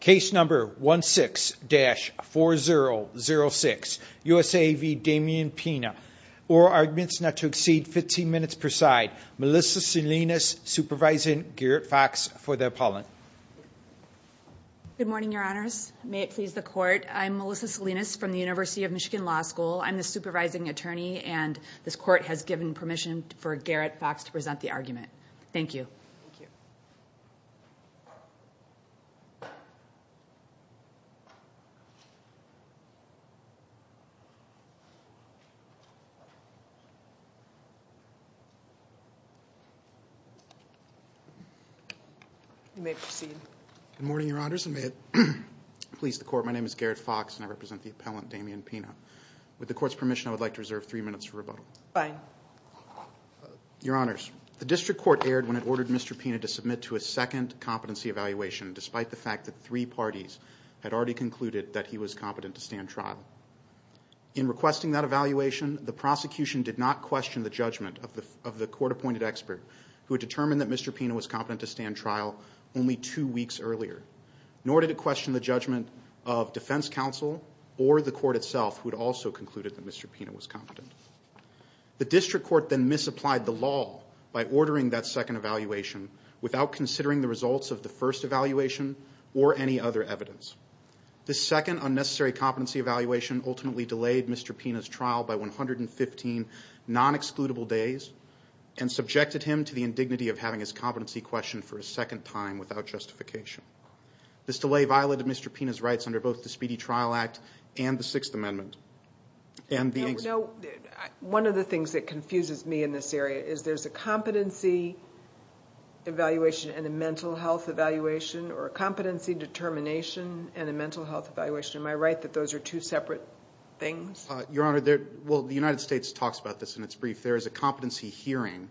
Case number 16-4006, USA v. Demian Pina. Oral arguments not to exceed 15 minutes per side. Melissa Salinas supervising Garrett Fox for the appellant. Good morning your honors. May it please the court. I'm Melissa Salinas from the University of Michigan Law School. I'm the supervising attorney and this court has given permission for Garrett Fox to present the argument. Thank you. You may proceed. Good morning your honors. May it please the court. My name is Garrett Fox and I represent the appellant Demian Pina. With the court's permission I would like to reserve three minutes for rebuttal. Fine. Your honors, the district court erred when it ordered Mr. Pina to submit to a second competency evaluation despite the fact that three parties had already concluded that he was competent to stand trial. In requesting that evaluation the prosecution did not question the judgment of the court-appointed expert who had determined that Mr. Pina was competent to stand trial only two weeks earlier. Nor did it question the judgment of defense counsel or the court itself who had also concluded that Mr. Pina was competent. The district court then misapplied the law by ordering that second evaluation without considering the results of the first evaluation or any other evidence. The second unnecessary competency evaluation ultimately delayed Mr. Pina's trial by 115 non-excludable days and subjected him to the indignity of having his competency questioned for a second time without justification. This delay violated Mr. Pina's rights under both the Speedy Trial Act and the Sixth Amendment. One of the things that confuses me in this area is there's a competency evaluation and a mental health evaluation or a competency determination and a mental health evaluation. Am I right that those are two separate things? Your Honor, the United States talks about this in its brief. There is a competency hearing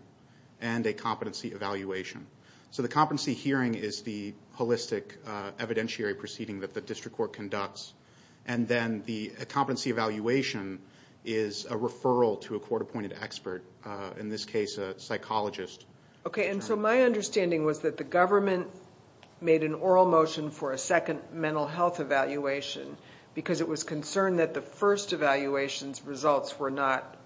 and a competency evaluation. So the competency hearing is the holistic evidentiary proceeding that the district court conducts and then the competency evaluation is a referral to a psychologist. Okay, and so my understanding was that the government made an oral motion for a second mental health evaluation because it was concerned that the first evaluations results were not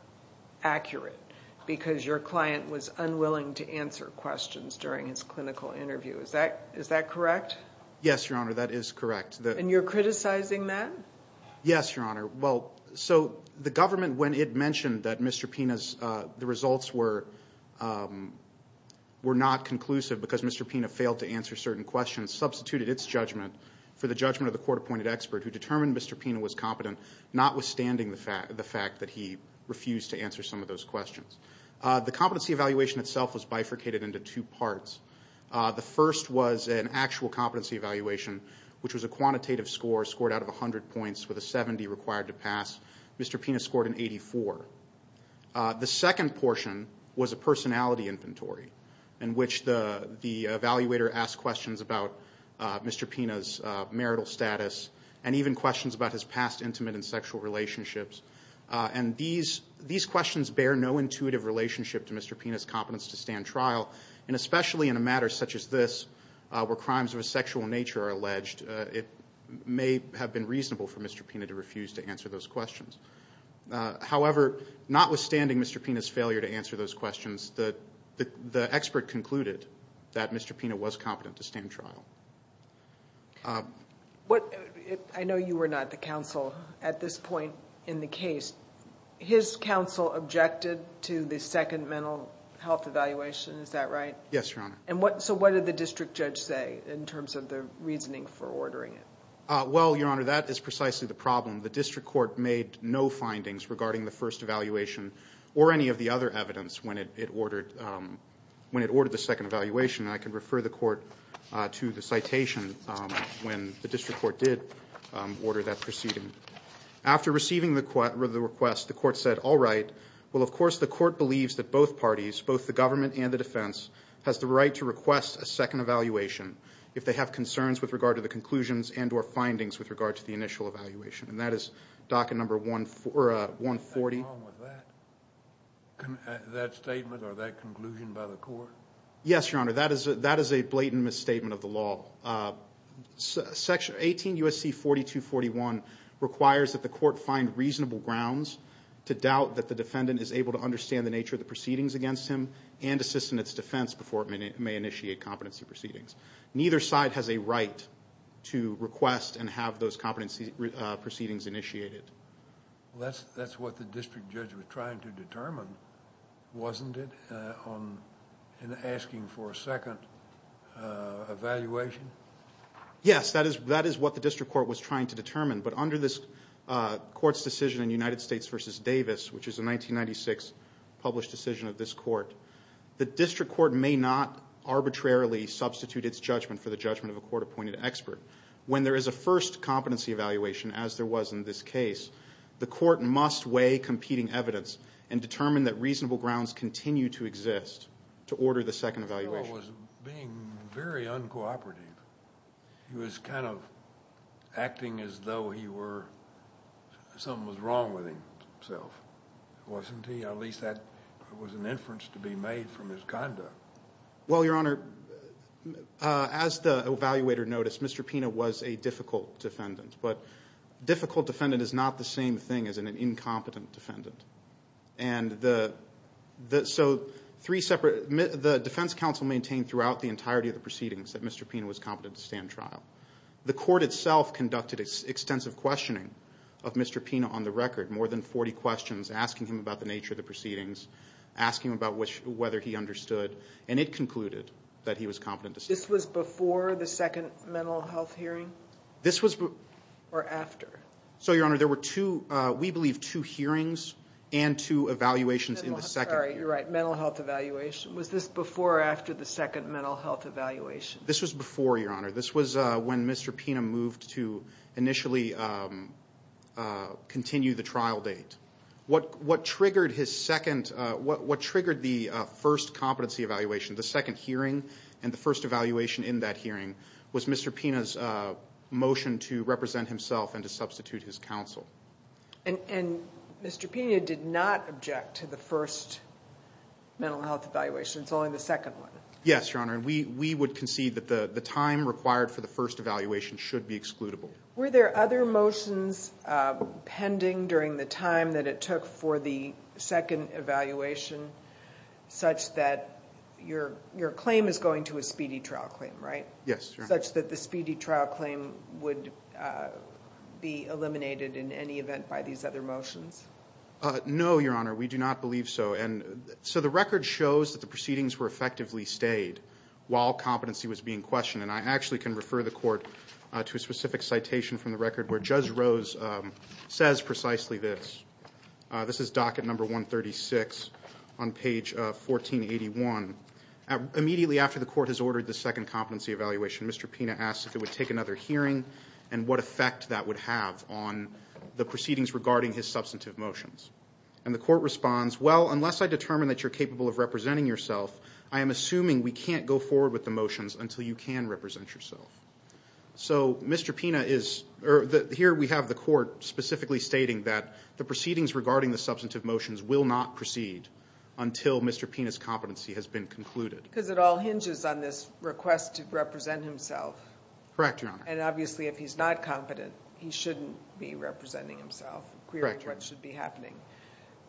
accurate because your client was unwilling to answer questions during his clinical interview. Is that is that correct? Yes, Your Honor, that is correct. And you're criticizing that? Yes, Your Honor. Well, so the government when it mentioned that Mr. Pina's the results were not conclusive because Mr. Pina failed to answer certain questions substituted its judgment for the judgment of the court-appointed expert who determined Mr. Pina was competent notwithstanding the fact that he refused to answer some of those questions. The competency evaluation itself was bifurcated into two parts. The first was an actual competency evaluation which was a quantitative score scored out of a hundred points with a 70 required to pass. Mr. Pina scored an 84. The second portion was a personality inventory in which the the evaluator asked questions about Mr. Pina's marital status and even questions about his past intimate and sexual relationships and these these questions bear no intuitive relationship to Mr. Pina's competence to stand trial and especially in a matter such as this where crimes of a sexual nature are alleged, it may have been reasonable for Mr. Pina to refuse to answer those questions. However, notwithstanding Mr. Pina's failure to answer those questions, the expert concluded that Mr. Pina was competent to stand trial. I know you were not the counsel at this point in the case. His counsel objected to the second mental health evaluation, is that right? Yes, Your Honor. And what so what did the district judge say in terms of the reasoning for ordering it? Well, Your Honor, that is precisely the problem. The district court made no findings regarding the first evaluation or any of the other evidence when it ordered the second evaluation. I can refer the court to the citation when the district court did order that proceeding. After receiving the request, the court said, all right, well of course the court believes that both parties, both the government and the defense, has the right to request a second evaluation if they have concerns with regard to the conclusions and or findings with regard to the initial evaluation. And that is docket number 140. Is that wrong with that? That statement or that conclusion by the court? Yes, Your Honor, that is a blatant misstatement of the law. Section 18 U.S.C. 4241 requires that the court find reasonable grounds to doubt that the defendant is able to understand the proceedings against him and assist in its defense before it may initiate competency proceedings. Neither side has a right to request and have those competency proceedings initiated. That's what the district judge was trying to determine, wasn't it, in asking for a second evaluation? Yes, that is what the district court was trying to determine. But under this court's decision in United States v. Davis, which is a 1996 published decision of this court, the district court may not arbitrarily substitute its judgment for the judgment of a court-appointed expert. When there is a first competency evaluation, as there was in this case, the court must weigh competing evidence and determine that reasonable grounds continue to exist to order the second evaluation to be made. Well, Your Honor, as the evaluator noticed, Mr. Pina was a difficult defendant. But difficult defendant is not the same thing as an incompetent defendant. And the defense counsel maintained throughout the entirety of the proceedings that Mr. Pina was competent to stand trial. The court itself conducted extensive questioning of Mr. Pina on the record, more than 40 questions, asking him about the nature of the proceedings, asking him about whether he understood. And it concluded that he was competent to stand trial. This was before the second mental health hearing? This was... Or after? So, Your Honor, there were two, we believe, two hearings and two evaluations in the second hearing. Sorry, you're right, mental health evaluation. Was this before or after the second mental health evaluation? This was before, Your Honor. This was when Mr. Pina moved to initially continue the trial date. What triggered his second, what triggered the first competency evaluation, the second hearing, and the first evaluation in that hearing was Mr. Pina's motion to represent himself and to substitute his counsel. And Mr. Pina did not object to the first mental health evaluation, it's only the second one? Yes, Your Honor, the motion required for the first evaluation should be excludable. Were there other motions pending during the time that it took for the second evaluation such that your claim is going to a speedy trial claim, right? Yes, Your Honor. Such that the speedy trial claim would be eliminated in any event by these other motions? No, Your Honor, we do not believe so. And so the record shows that the proceedings were effectively stayed while competency was being questioned. And I actually can refer the court to a specific citation from the record where Judge Rose says precisely this. This is docket number 136 on page 1481. Immediately after the court has ordered the second competency evaluation, Mr. Pina asks if it would take another hearing and what effect that would have on the proceedings regarding his substantive motions. And the court responds, well, unless I determine that you're capable of representing yourself, I am assuming we can't go forward with the motions until you can represent yourself. So Mr. Pina is, here we have the court specifically stating that the proceedings regarding the substantive motions will not proceed until Mr. Pina's competency has been concluded. Because it all hinges on this request to represent himself. Correct, Your Honor. And obviously, if he's not competent, he shouldn't be representing himself, querying what should be happening.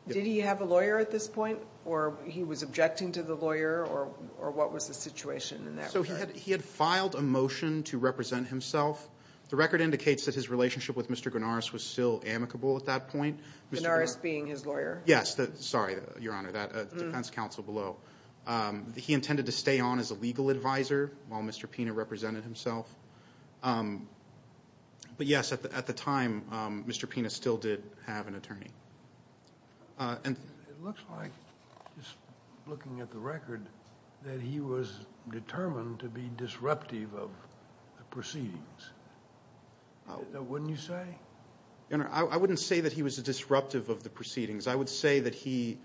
Did he have a lawyer at this point, or he was objecting to the lawyer, or what was the situation in that regard? So he had filed a motion to represent himself. The record indicates that his relationship with Mr. Guarnaris was still amicable at that point. Guarnaris being his lawyer? Yes. Sorry, Your Honor, that defends counsel below. He intended to stay on as a legal advisor while Mr. Pina represented himself. But yes, at the time, Mr. Pina still did have an attorney. It looks like, just looking at the record, that he was determined to be disruptive of the proceedings. Wouldn't you say? I wouldn't say that he was disruptive of the proceedings. I would say that he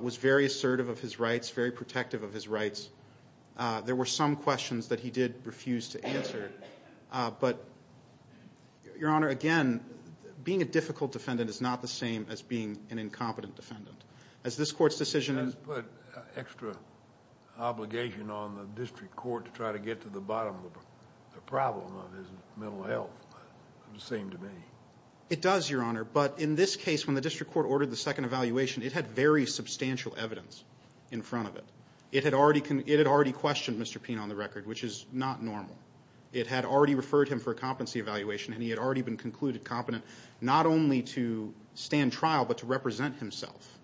was very assertive of his rights, very protective of his rights. There were some questions that he did refuse to answer. But, Your Honor, again, being a difficult defendant is not the same as being an incompetent defendant. Has this court's decision... Has this put extra obligation on the district court to try to get to the bottom of the problem of his mental health, it would seem to me? It does, Your Honor, but in this case, when the district court ordered the second evaluation, it had very substantial evidence in front of it. It had already questioned Mr. Pina on the record, which is not normal. It had already referred him for a competency evaluation, and he had already been concluded competent, not only to stand trial, but to represent himself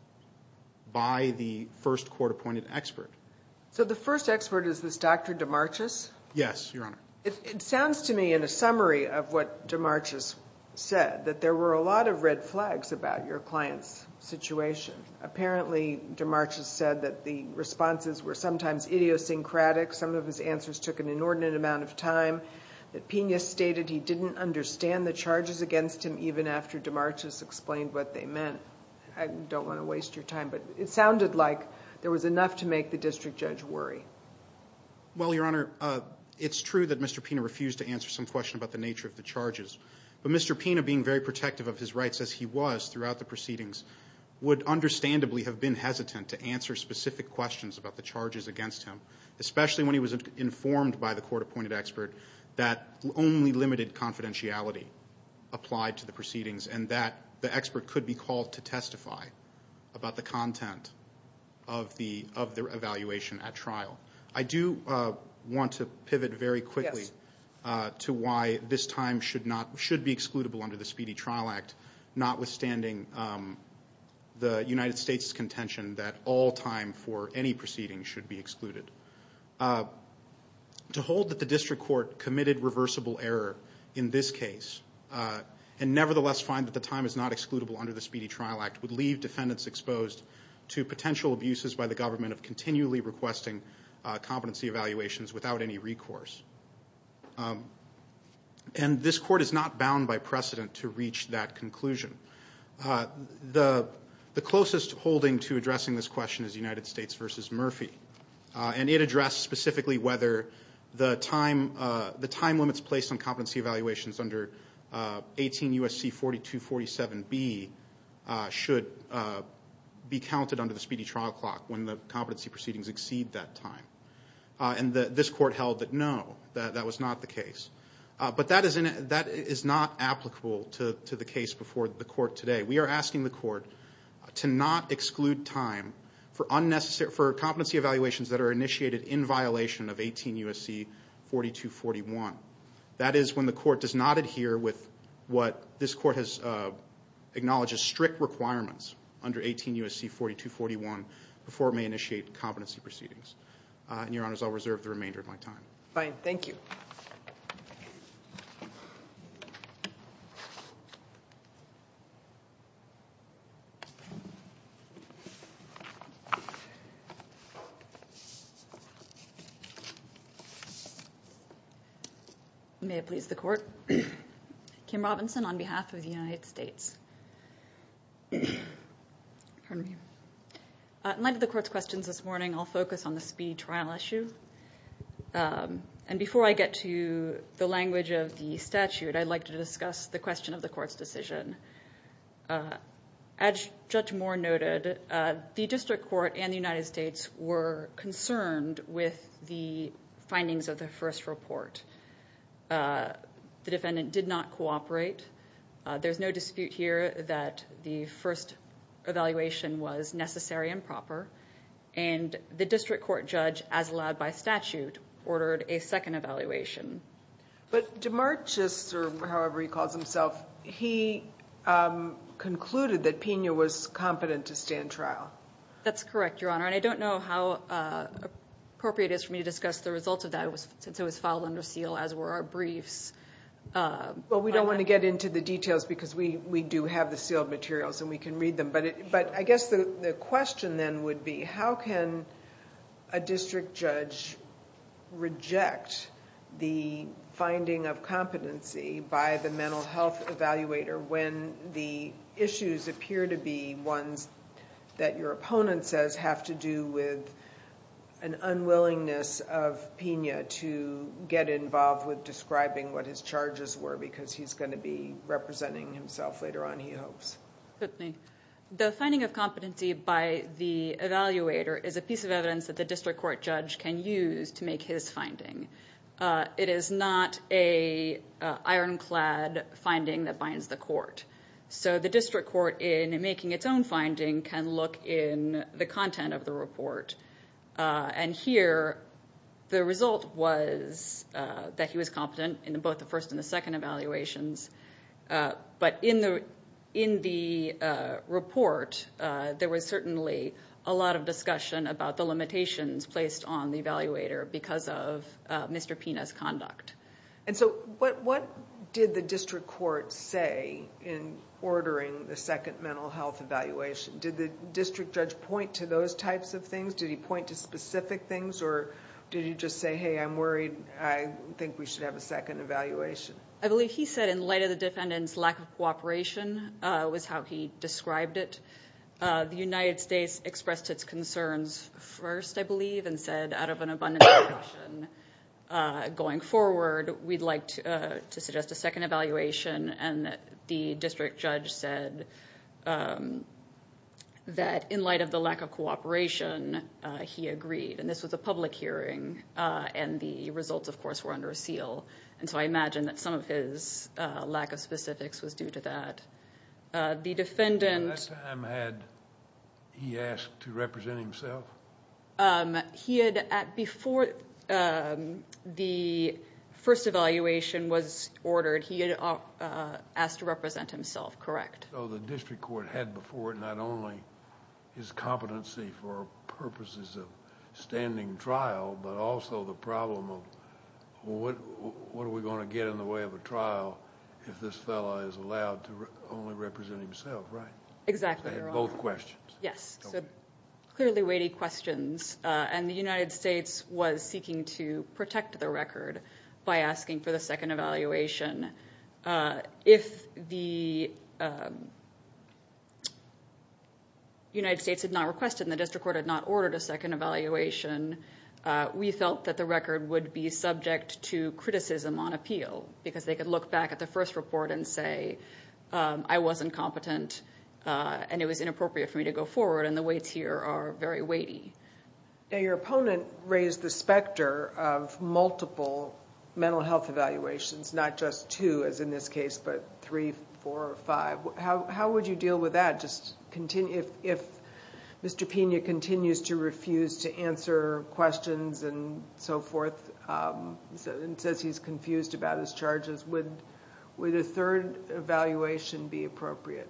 by the first court-appointed expert. So the first expert is this Dr. Demarchus? Yes, Your Honor. It sounds to me, in a summary of what Demarchus said, that there were a lot of red flags about your client's situation. Apparently, Demarchus said that the responses were sometimes idiosyncratic. Some of his answers took an inordinate amount of time. That Pina stated he didn't understand the charges against him even after Demarchus explained what they meant. I don't want to waste your time, but it sounded like there was enough to make the district judge worry. Well, Your Honor, it's true that Mr. Pina refused to answer some questions about the nature of the charges, but Mr. Pina, being very protective of his rights as he was throughout the proceedings, would understandably have been hesitant to answer specific questions about the charges against him, especially when he was informed by the court-appointed expert that only limited confidentiality applied to the proceedings, and that the expert could be called to testify about the content of their evaluation at trial. I do want to pivot very quickly to why this time should be excludable under the Speedy Trial Act, notwithstanding the United States' contention that all time for any proceeding should be excluded. To hold that the district court committed reversible error in this case, and nevertheless find that the time is not excludable under the Speedy Trial Act, would leave defendants exposed to potential abuses by the government of continually requesting competency evaluations without any recourse. And this court is not bound by precedent to reach that conclusion. The closest holding to addressing this question is United States v. Murphy, and it addressed specifically whether the time limits placed on competency evaluations under 18 U.S.C. 4247B should be counted under the Speedy Trial Clock when the competency proceedings exceed that time. And this court held that no, that was not the case. But that is not applicable to the case before the court today. We are asking the court to not exclude time for competency evaluations that are initiated in violation of 18 U.S.C. 4241. That is when the court does not adhere with what this court has acknowledged as strict requirements under 18 U.S.C. 4241 before it may initiate competency proceedings. And, Your Honors, I'll reserve the remainder of my time. Fine. Thank you. May it please the court. Kim Robinson on behalf of the United States. In light of the court's questions this morning, I'll focus on the speedy trial issue. And before I get to the language of the statute, I'd like to discuss the question of the court's decision. As Judge Moore noted, the district court and the United States were concerned with the findings of the first report. The defendant did not cooperate. There's no dispute here that the first evaluation was necessary and proper. And the district court judge, as allowed by statute, ordered a second evaluation. But DeMarchis, or however he calls himself, he concluded that Pena was competent to stand trial. That's correct, Your Honor. And I don't know how appropriate it is for me to discuss the results of that since it was filed under seal, as were our briefs. Well, we don't want to get into the details because we do have the sealed materials and we can read them. But I guess the question then would be, how can a district judge reject the finding of competency by the mental health evaluator when the issues appear to be ones that your opponent says have to do with an unwillingness of Pena to get involved with describing what his charges were because he's going to be representing himself later on, he hopes. The finding of competency by the evaluator is a piece of evidence that the district court judge can use to make his finding. It is not an ironclad finding that binds the court. So the district court in making its own finding can look in the content of the report. And here, the result was that he was competent in both the first and the second evaluations. But in the report, there was certainly a lot of discussion about the limitations placed on the evaluator because of Mr. Pena's conduct. And so what did the district court say in ordering the second mental health evaluation? Did the district judge point to those types of things? Did he point to specific things or did he just say, hey, I'm worried, I think we should have a second evaluation? I believe he said in light of the defendant's lack of cooperation was how he described it. The United States expressed its concerns first, I believe, and said out of an abundance of caution going forward, we'd like to suggest a second evaluation. And the district judge said that in light of the lack of cooperation, he agreed. And this was a public hearing and the results, of course, were under seal. And so I imagine that some of his lack of specifics was due to that. The defendant... At that time, had he asked to represent himself? He had, before the first evaluation was ordered, he had asked to represent himself, correct. So the district court had before it not only his competency for purposes of what are we going to get in the way of a trial if this fellow is allowed to only represent himself, right? Exactly. They had both questions. Yes. So clearly weighty questions. And the United States was seeking to protect the record by asking for the second evaluation. If the United States had not requested and the district court had not ordered a second evaluation, we felt that the record would be subject to criticism on appeal because they could look back at the first report and say, I wasn't competent and it was inappropriate for me to go forward. And the weights here are very weighty. Your opponent raised the specter of multiple mental health evaluations, not just two as in this case, but three, four or five. How would you deal with that if Mr. Soforth says he's confused about his charges? Would a third evaluation be appropriate?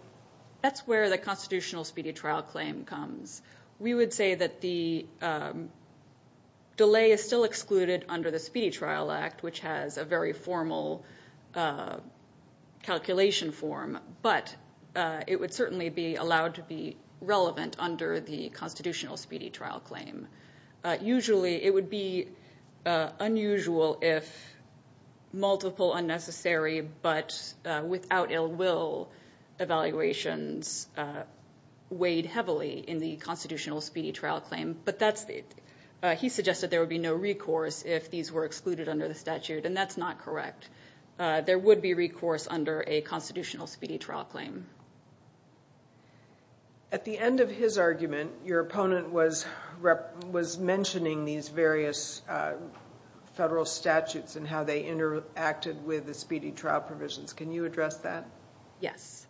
That's where the Constitutional Speedy Trial Claim comes. We would say that the delay is still excluded under the Speedy Trial Act, which has a very formal calculation form, but it would certainly be allowed to be relevant under the Constitutional Speedy Trial Claim. Usually it would be unusual if multiple unnecessary but without ill will evaluations weighed heavily in the Constitutional Speedy Trial Claim, but he suggested there would be no recourse if these were excluded under the statute, and that's not correct. There would be recourse under a Constitutional Speedy Trial Claim. At the end of his argument, your opponent was mentioning these various federal statutes and how they interacted with the Speedy Trial provisions. Can you address that? Yes.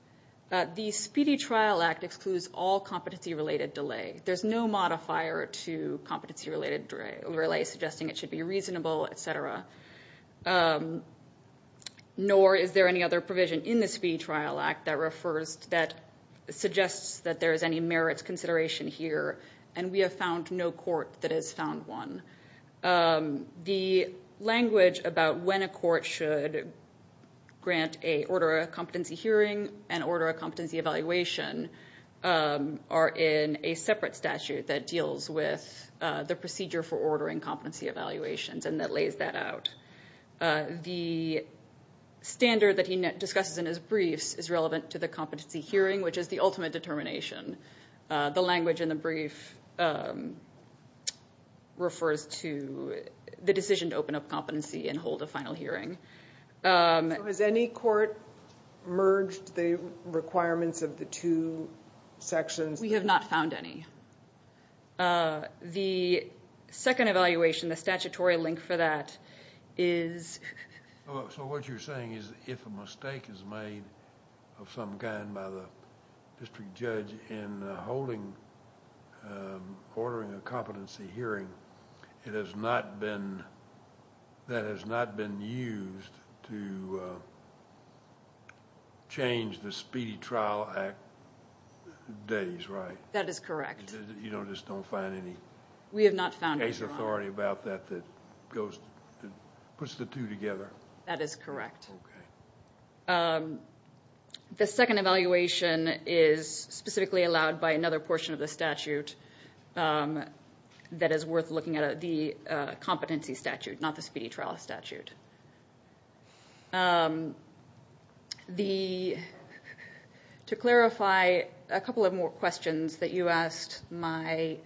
The Speedy Trial Act excludes all competency-related delay. There's no modifier to competency-related delay, suggesting it should be reasonable, et cetera. Nor is there any other provision in the Speedy Trial Act that suggests that there is any merits consideration here, and we have found no court that has found one. The language about when a court should grant a order of competency hearing and order of competency evaluation are in a separate statute that deals with the procedure for ordering competency evaluations and that lays that out. The standard that he discusses in his briefs is relevant to the competency hearing, which is the ultimate determination. The language in the brief refers to the decision to open up competency and hold a final hearing. Has any court merged the requirements of the two sections? We have not found any. The second evaluation, the statutory link for that, is... So what you're saying is if a mistake is made of some kind by the district judge in ordering a competency hearing, that has not been used to change the Speedy Trial Act days, right? That is correct. You just don't find any case authority about that that puts the two together? That is correct. The second evaluation is specifically allowed by another portion of the statute that is worth looking at, the competency statute, not the Speedy Trial statute. To clarify, a couple of more questions that you asked my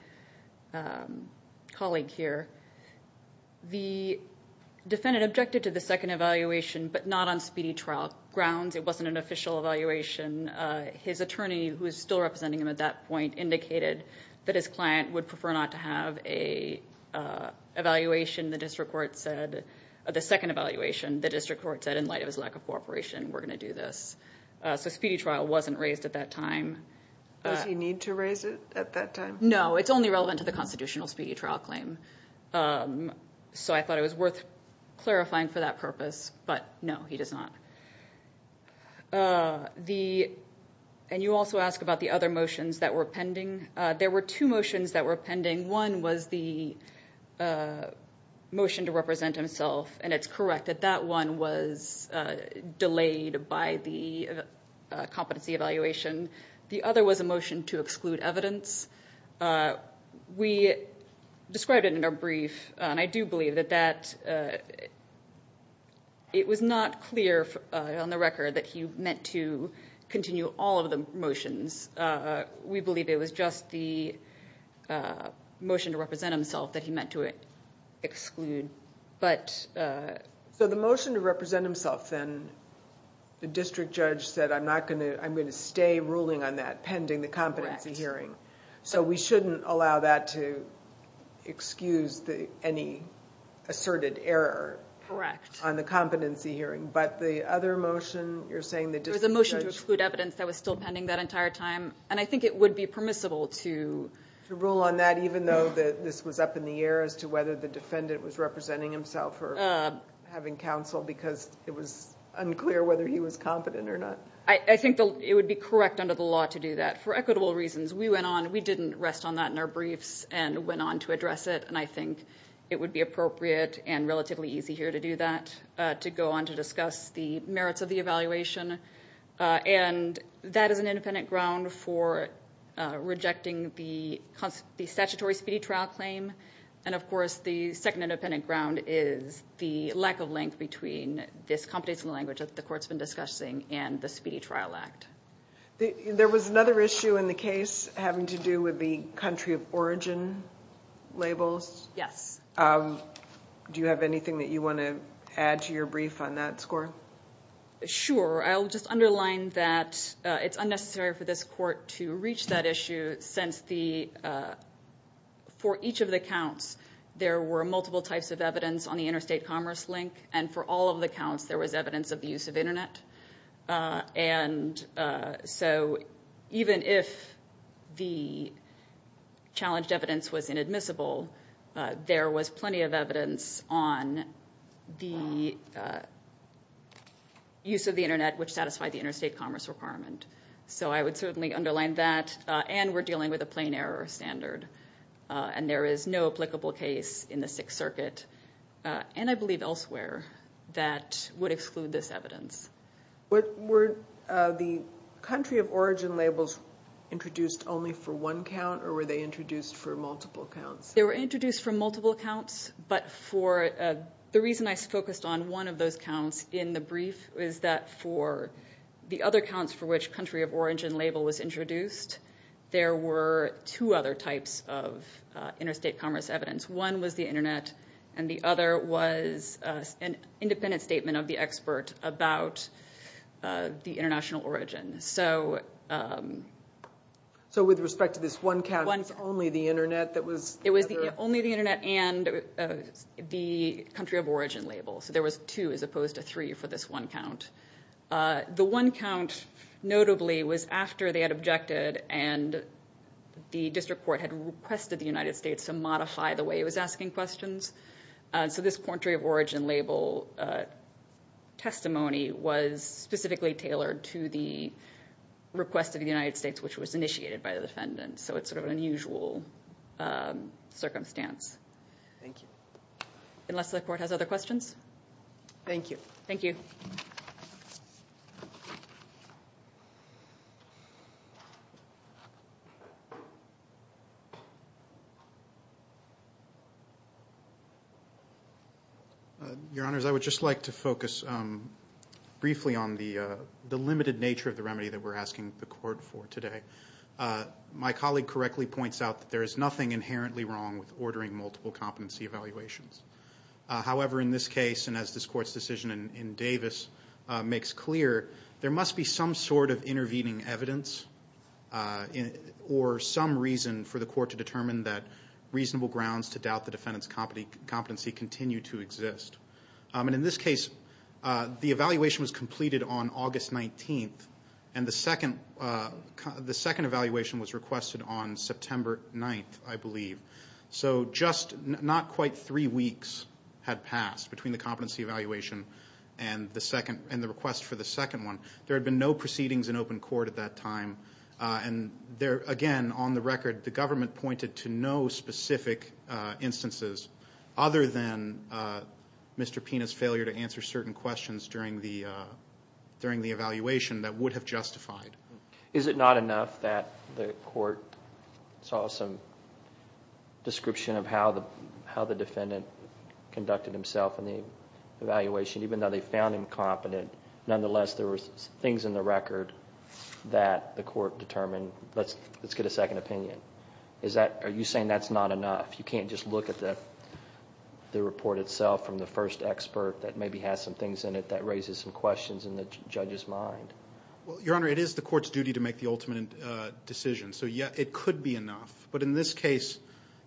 colleague here. The defendant objected to the second evaluation, but not on Speedy Trial grounds. It wasn't an official evaluation. His attorney, who is still representing him at that point, indicated that his client would prefer not to have an evaluation. The second evaluation, the district court said, in light of his lack of cooperation, we're going to do this. So Speedy Trial wasn't raised at that time. Does he need to raise it at that time? No, it's only relevant to the constitutional Speedy Trial claim. So I thought it was worth clarifying for that purpose, but no, he does not. You also asked about the other motions that were pending. There were two motions that were pending. One was the motion to represent himself, and it's correct that that one was delayed by the competency evaluation. The other was a motion to exclude evidence. We believe it was not clear on the record that he meant to continue all of the motions. We believe it was just the motion to represent himself that he meant to exclude. So the motion to represent himself then, the district judge said, I'm going to stay ruling on that pending the competency hearing. So we shouldn't allow that to excuse any asserted error on the competency hearing. But the other motion, you're saying the district judge... There was a motion to exclude evidence that was still pending that entire time, and I think it would be permissible to... To rule on that, even though this was up in the air as to whether the defendant was representing himself or having counsel because it was unclear whether he was competent or not. I think it would be correct under the law to do that, for equitable reasons. We didn't rest on that in our briefs and went on to address it, and I think it would be appropriate and relatively easy here to do that, to go on to discuss the merits of the evaluation. And that is an independent ground for rejecting the statutory speedy trial claim. And of course, the second independent ground is the lack of length between this competence in the language that the court's been discussing and the Speedy Trial Act. There was another issue in the case having to do with the country of origin labels. Yes. Do you have anything that you want to add to your brief on that score? Sure. I'll just underline that it's unnecessary for this court to reach that issue since for each of the counts, there were multiple types of evidence on the interstate commerce link, and for all of the counts, there was evidence of the use of internet. And so even if the there was plenty of evidence on the use of the internet, which satisfied the interstate commerce requirement. So I would certainly underline that, and we're dealing with a plain error standard, and there is no applicable case in the Sixth Circuit, and I believe elsewhere, that would exclude this evidence. Were the country of origin labels introduced only for one count, or were they introduced for multiple counts? They were introduced for multiple counts, but the reason I focused on one of those counts in the brief is that for the other counts for which country of origin label was introduced, there were two other types of interstate commerce evidence. One was the internet, and the other was an independent statement of the expert about the international origin. So with respect to this one count, it was only the internet that was... It was only the internet and the country of origin label. So there was two as opposed to three for this one count. The one count, notably, was after they had objected and the district court had requested the United States to modify the way it was asking questions. So this country of origin label testimony was specifically tailored to the request of the United States, which was initiated by the defendant. So it's sort of an unusual circumstance. Thank you. Unless the court has other questions? Thank you. Your Honors, I would just like to focus briefly on the limited nature of the remedy that we're asking the court for today. My colleague correctly points out that there is nothing inherently wrong with ordering multiple competency evaluations. However, in this case, and as this court's decision in Davis makes clear, there must be some sort of intervening evidence or some reason for the court to determine that reasonable grounds to doubt the defendant's competency continue to exist. In this case, the evaluation was completed on August 19th and the second evaluation was requested on September 9th, I believe. So just not quite three weeks had passed between the competency evaluation and the request for the second one. There had been no proceedings in open court at that time. And again, on the record, the government pointed to no specific instances other than Mr. Pina's failure to answer certain questions during the evaluation that would have justified. Is it not enough that the court saw some description of how the defendant conducted himself in the evaluation, even though they found him competent, nonetheless there were things in the record that the court determined, let's get a second opinion? Are you saying that's not enough? You can't just look at the report itself from the first expert that maybe has some things in it that raises some questions in the judge's mind? Well, Your Honor, it is the court's duty to make the ultimate decision. So yes, it could be enough. But in this case,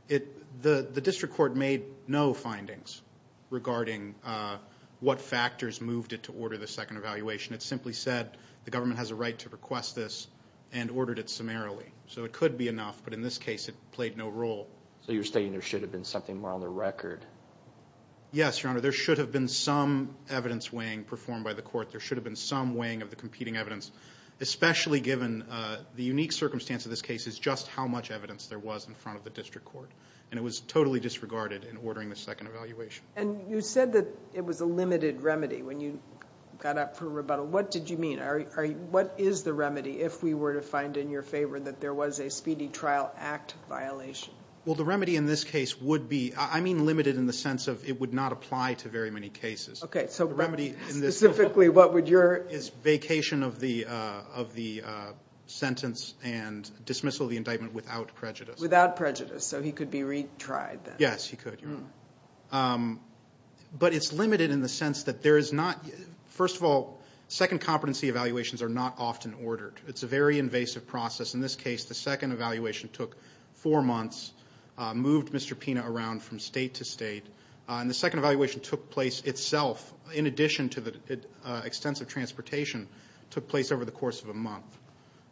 the district court made no findings regarding what factors moved it to order the second evaluation. It simply said the government has a right to request this and ordered it summarily. So it could be enough, but in this case it played no role. So you're stating there should have been something more on the record? Yes, Your Honor. There should have been some evidence weighing performed by the court. There should have been some weighing of the competing evidence, especially given the unique circumstance of this case is just how much evidence there was in front of the district court. And it was totally disregarded in ordering the second evaluation. And you said that it was a limited remedy when you got up for rebuttal. What did you mean? What is the remedy if we were to find in your favor that there was a speedy trial act violation? Well, the remedy in this case would be, I mean limited in the sense of it would not apply to very many cases. Okay, so specifically what would your... And dismissal of the indictment without prejudice. Without prejudice, so he could be retried then? Yes, he could, Your Honor. But it's limited in the sense that there is not... First of all, second competency evaluations are not often ordered. It's a very invasive process. In this case, the second evaluation took four months, moved Mr. Pina around from state to state, and the second evaluation took place itself in addition to the extensive transportation took place over the course of a month.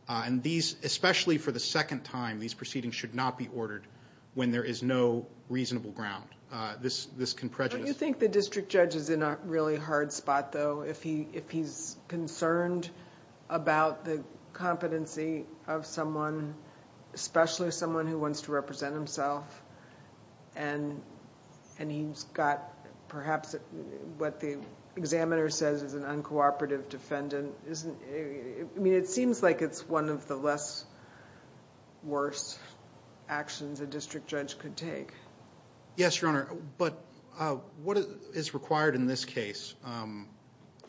And these, especially for the second time, these proceedings should not be ordered when there is no reasonable ground. This can prejudice... Don't you think the district judge is in a really hard spot, though, if he's concerned about the competency of someone, especially someone who wants to represent himself, and he's got perhaps what the examiner says is an uncooperative defendant? I mean, it seems like it's one of the less worse actions a district judge could take. Yes, Your Honor. But what is required in this case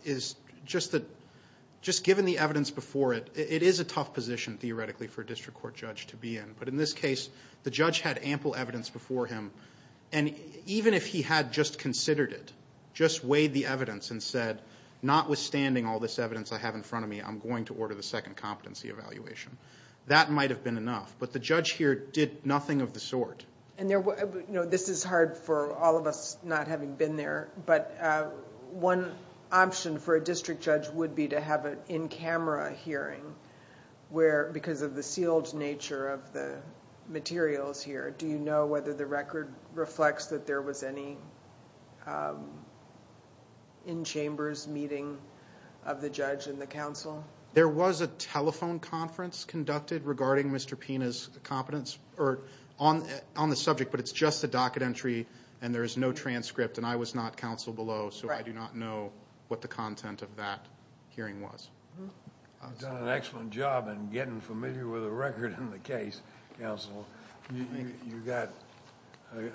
is just that... Just given the evidence before it, it is a tough position theoretically for a district court judge to be in. But in this case, the judge had ample evidence before him, and even if he had just considered it, just weighed the evidence and said, notwithstanding all this evidence I have in front of me, I'm going to order the second competency evaluation, that might have been enough. But the judge here did nothing of the sort. This is hard for all of us not having been there, but one option for a district judge would be to have an in-camera hearing, because of the sealed nature of the materials here. Do you know whether the record reflects that there was any in-chambers meeting of the judge and the counsel? There was a telephone conference conducted regarding Mr. Pina's competence on the subject, but it's just a docket entry, and there is no transcript, and I was not counsel below, so I do not know what the content of that hearing was. You've done an excellent job in getting familiar with the record and the case, counsel. You've got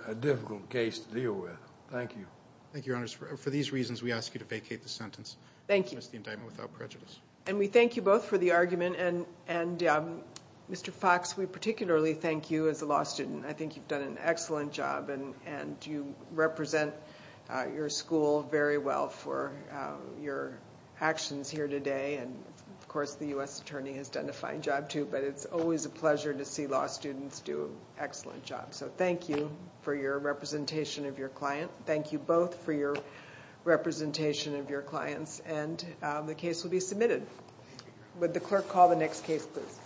a difficult case to deal with. Thank you. Thank you, Your Honor. For these reasons, we ask you to vacate the sentence. Thank you. Dismiss the indictment without prejudice. And we thank you both for the argument, and Mr. Fox, we particularly thank you as a law student. I think you've done an excellent job, and you represent your school very well for your actions here today, and of course, the U.S. Attorney has done a fine job, too, but it's always a pleasure to see law students do excellent jobs. So thank you for your representation of your client. Thank you both for your representation of your clients, and the case will be submitted. Would the clerk call the next case, please?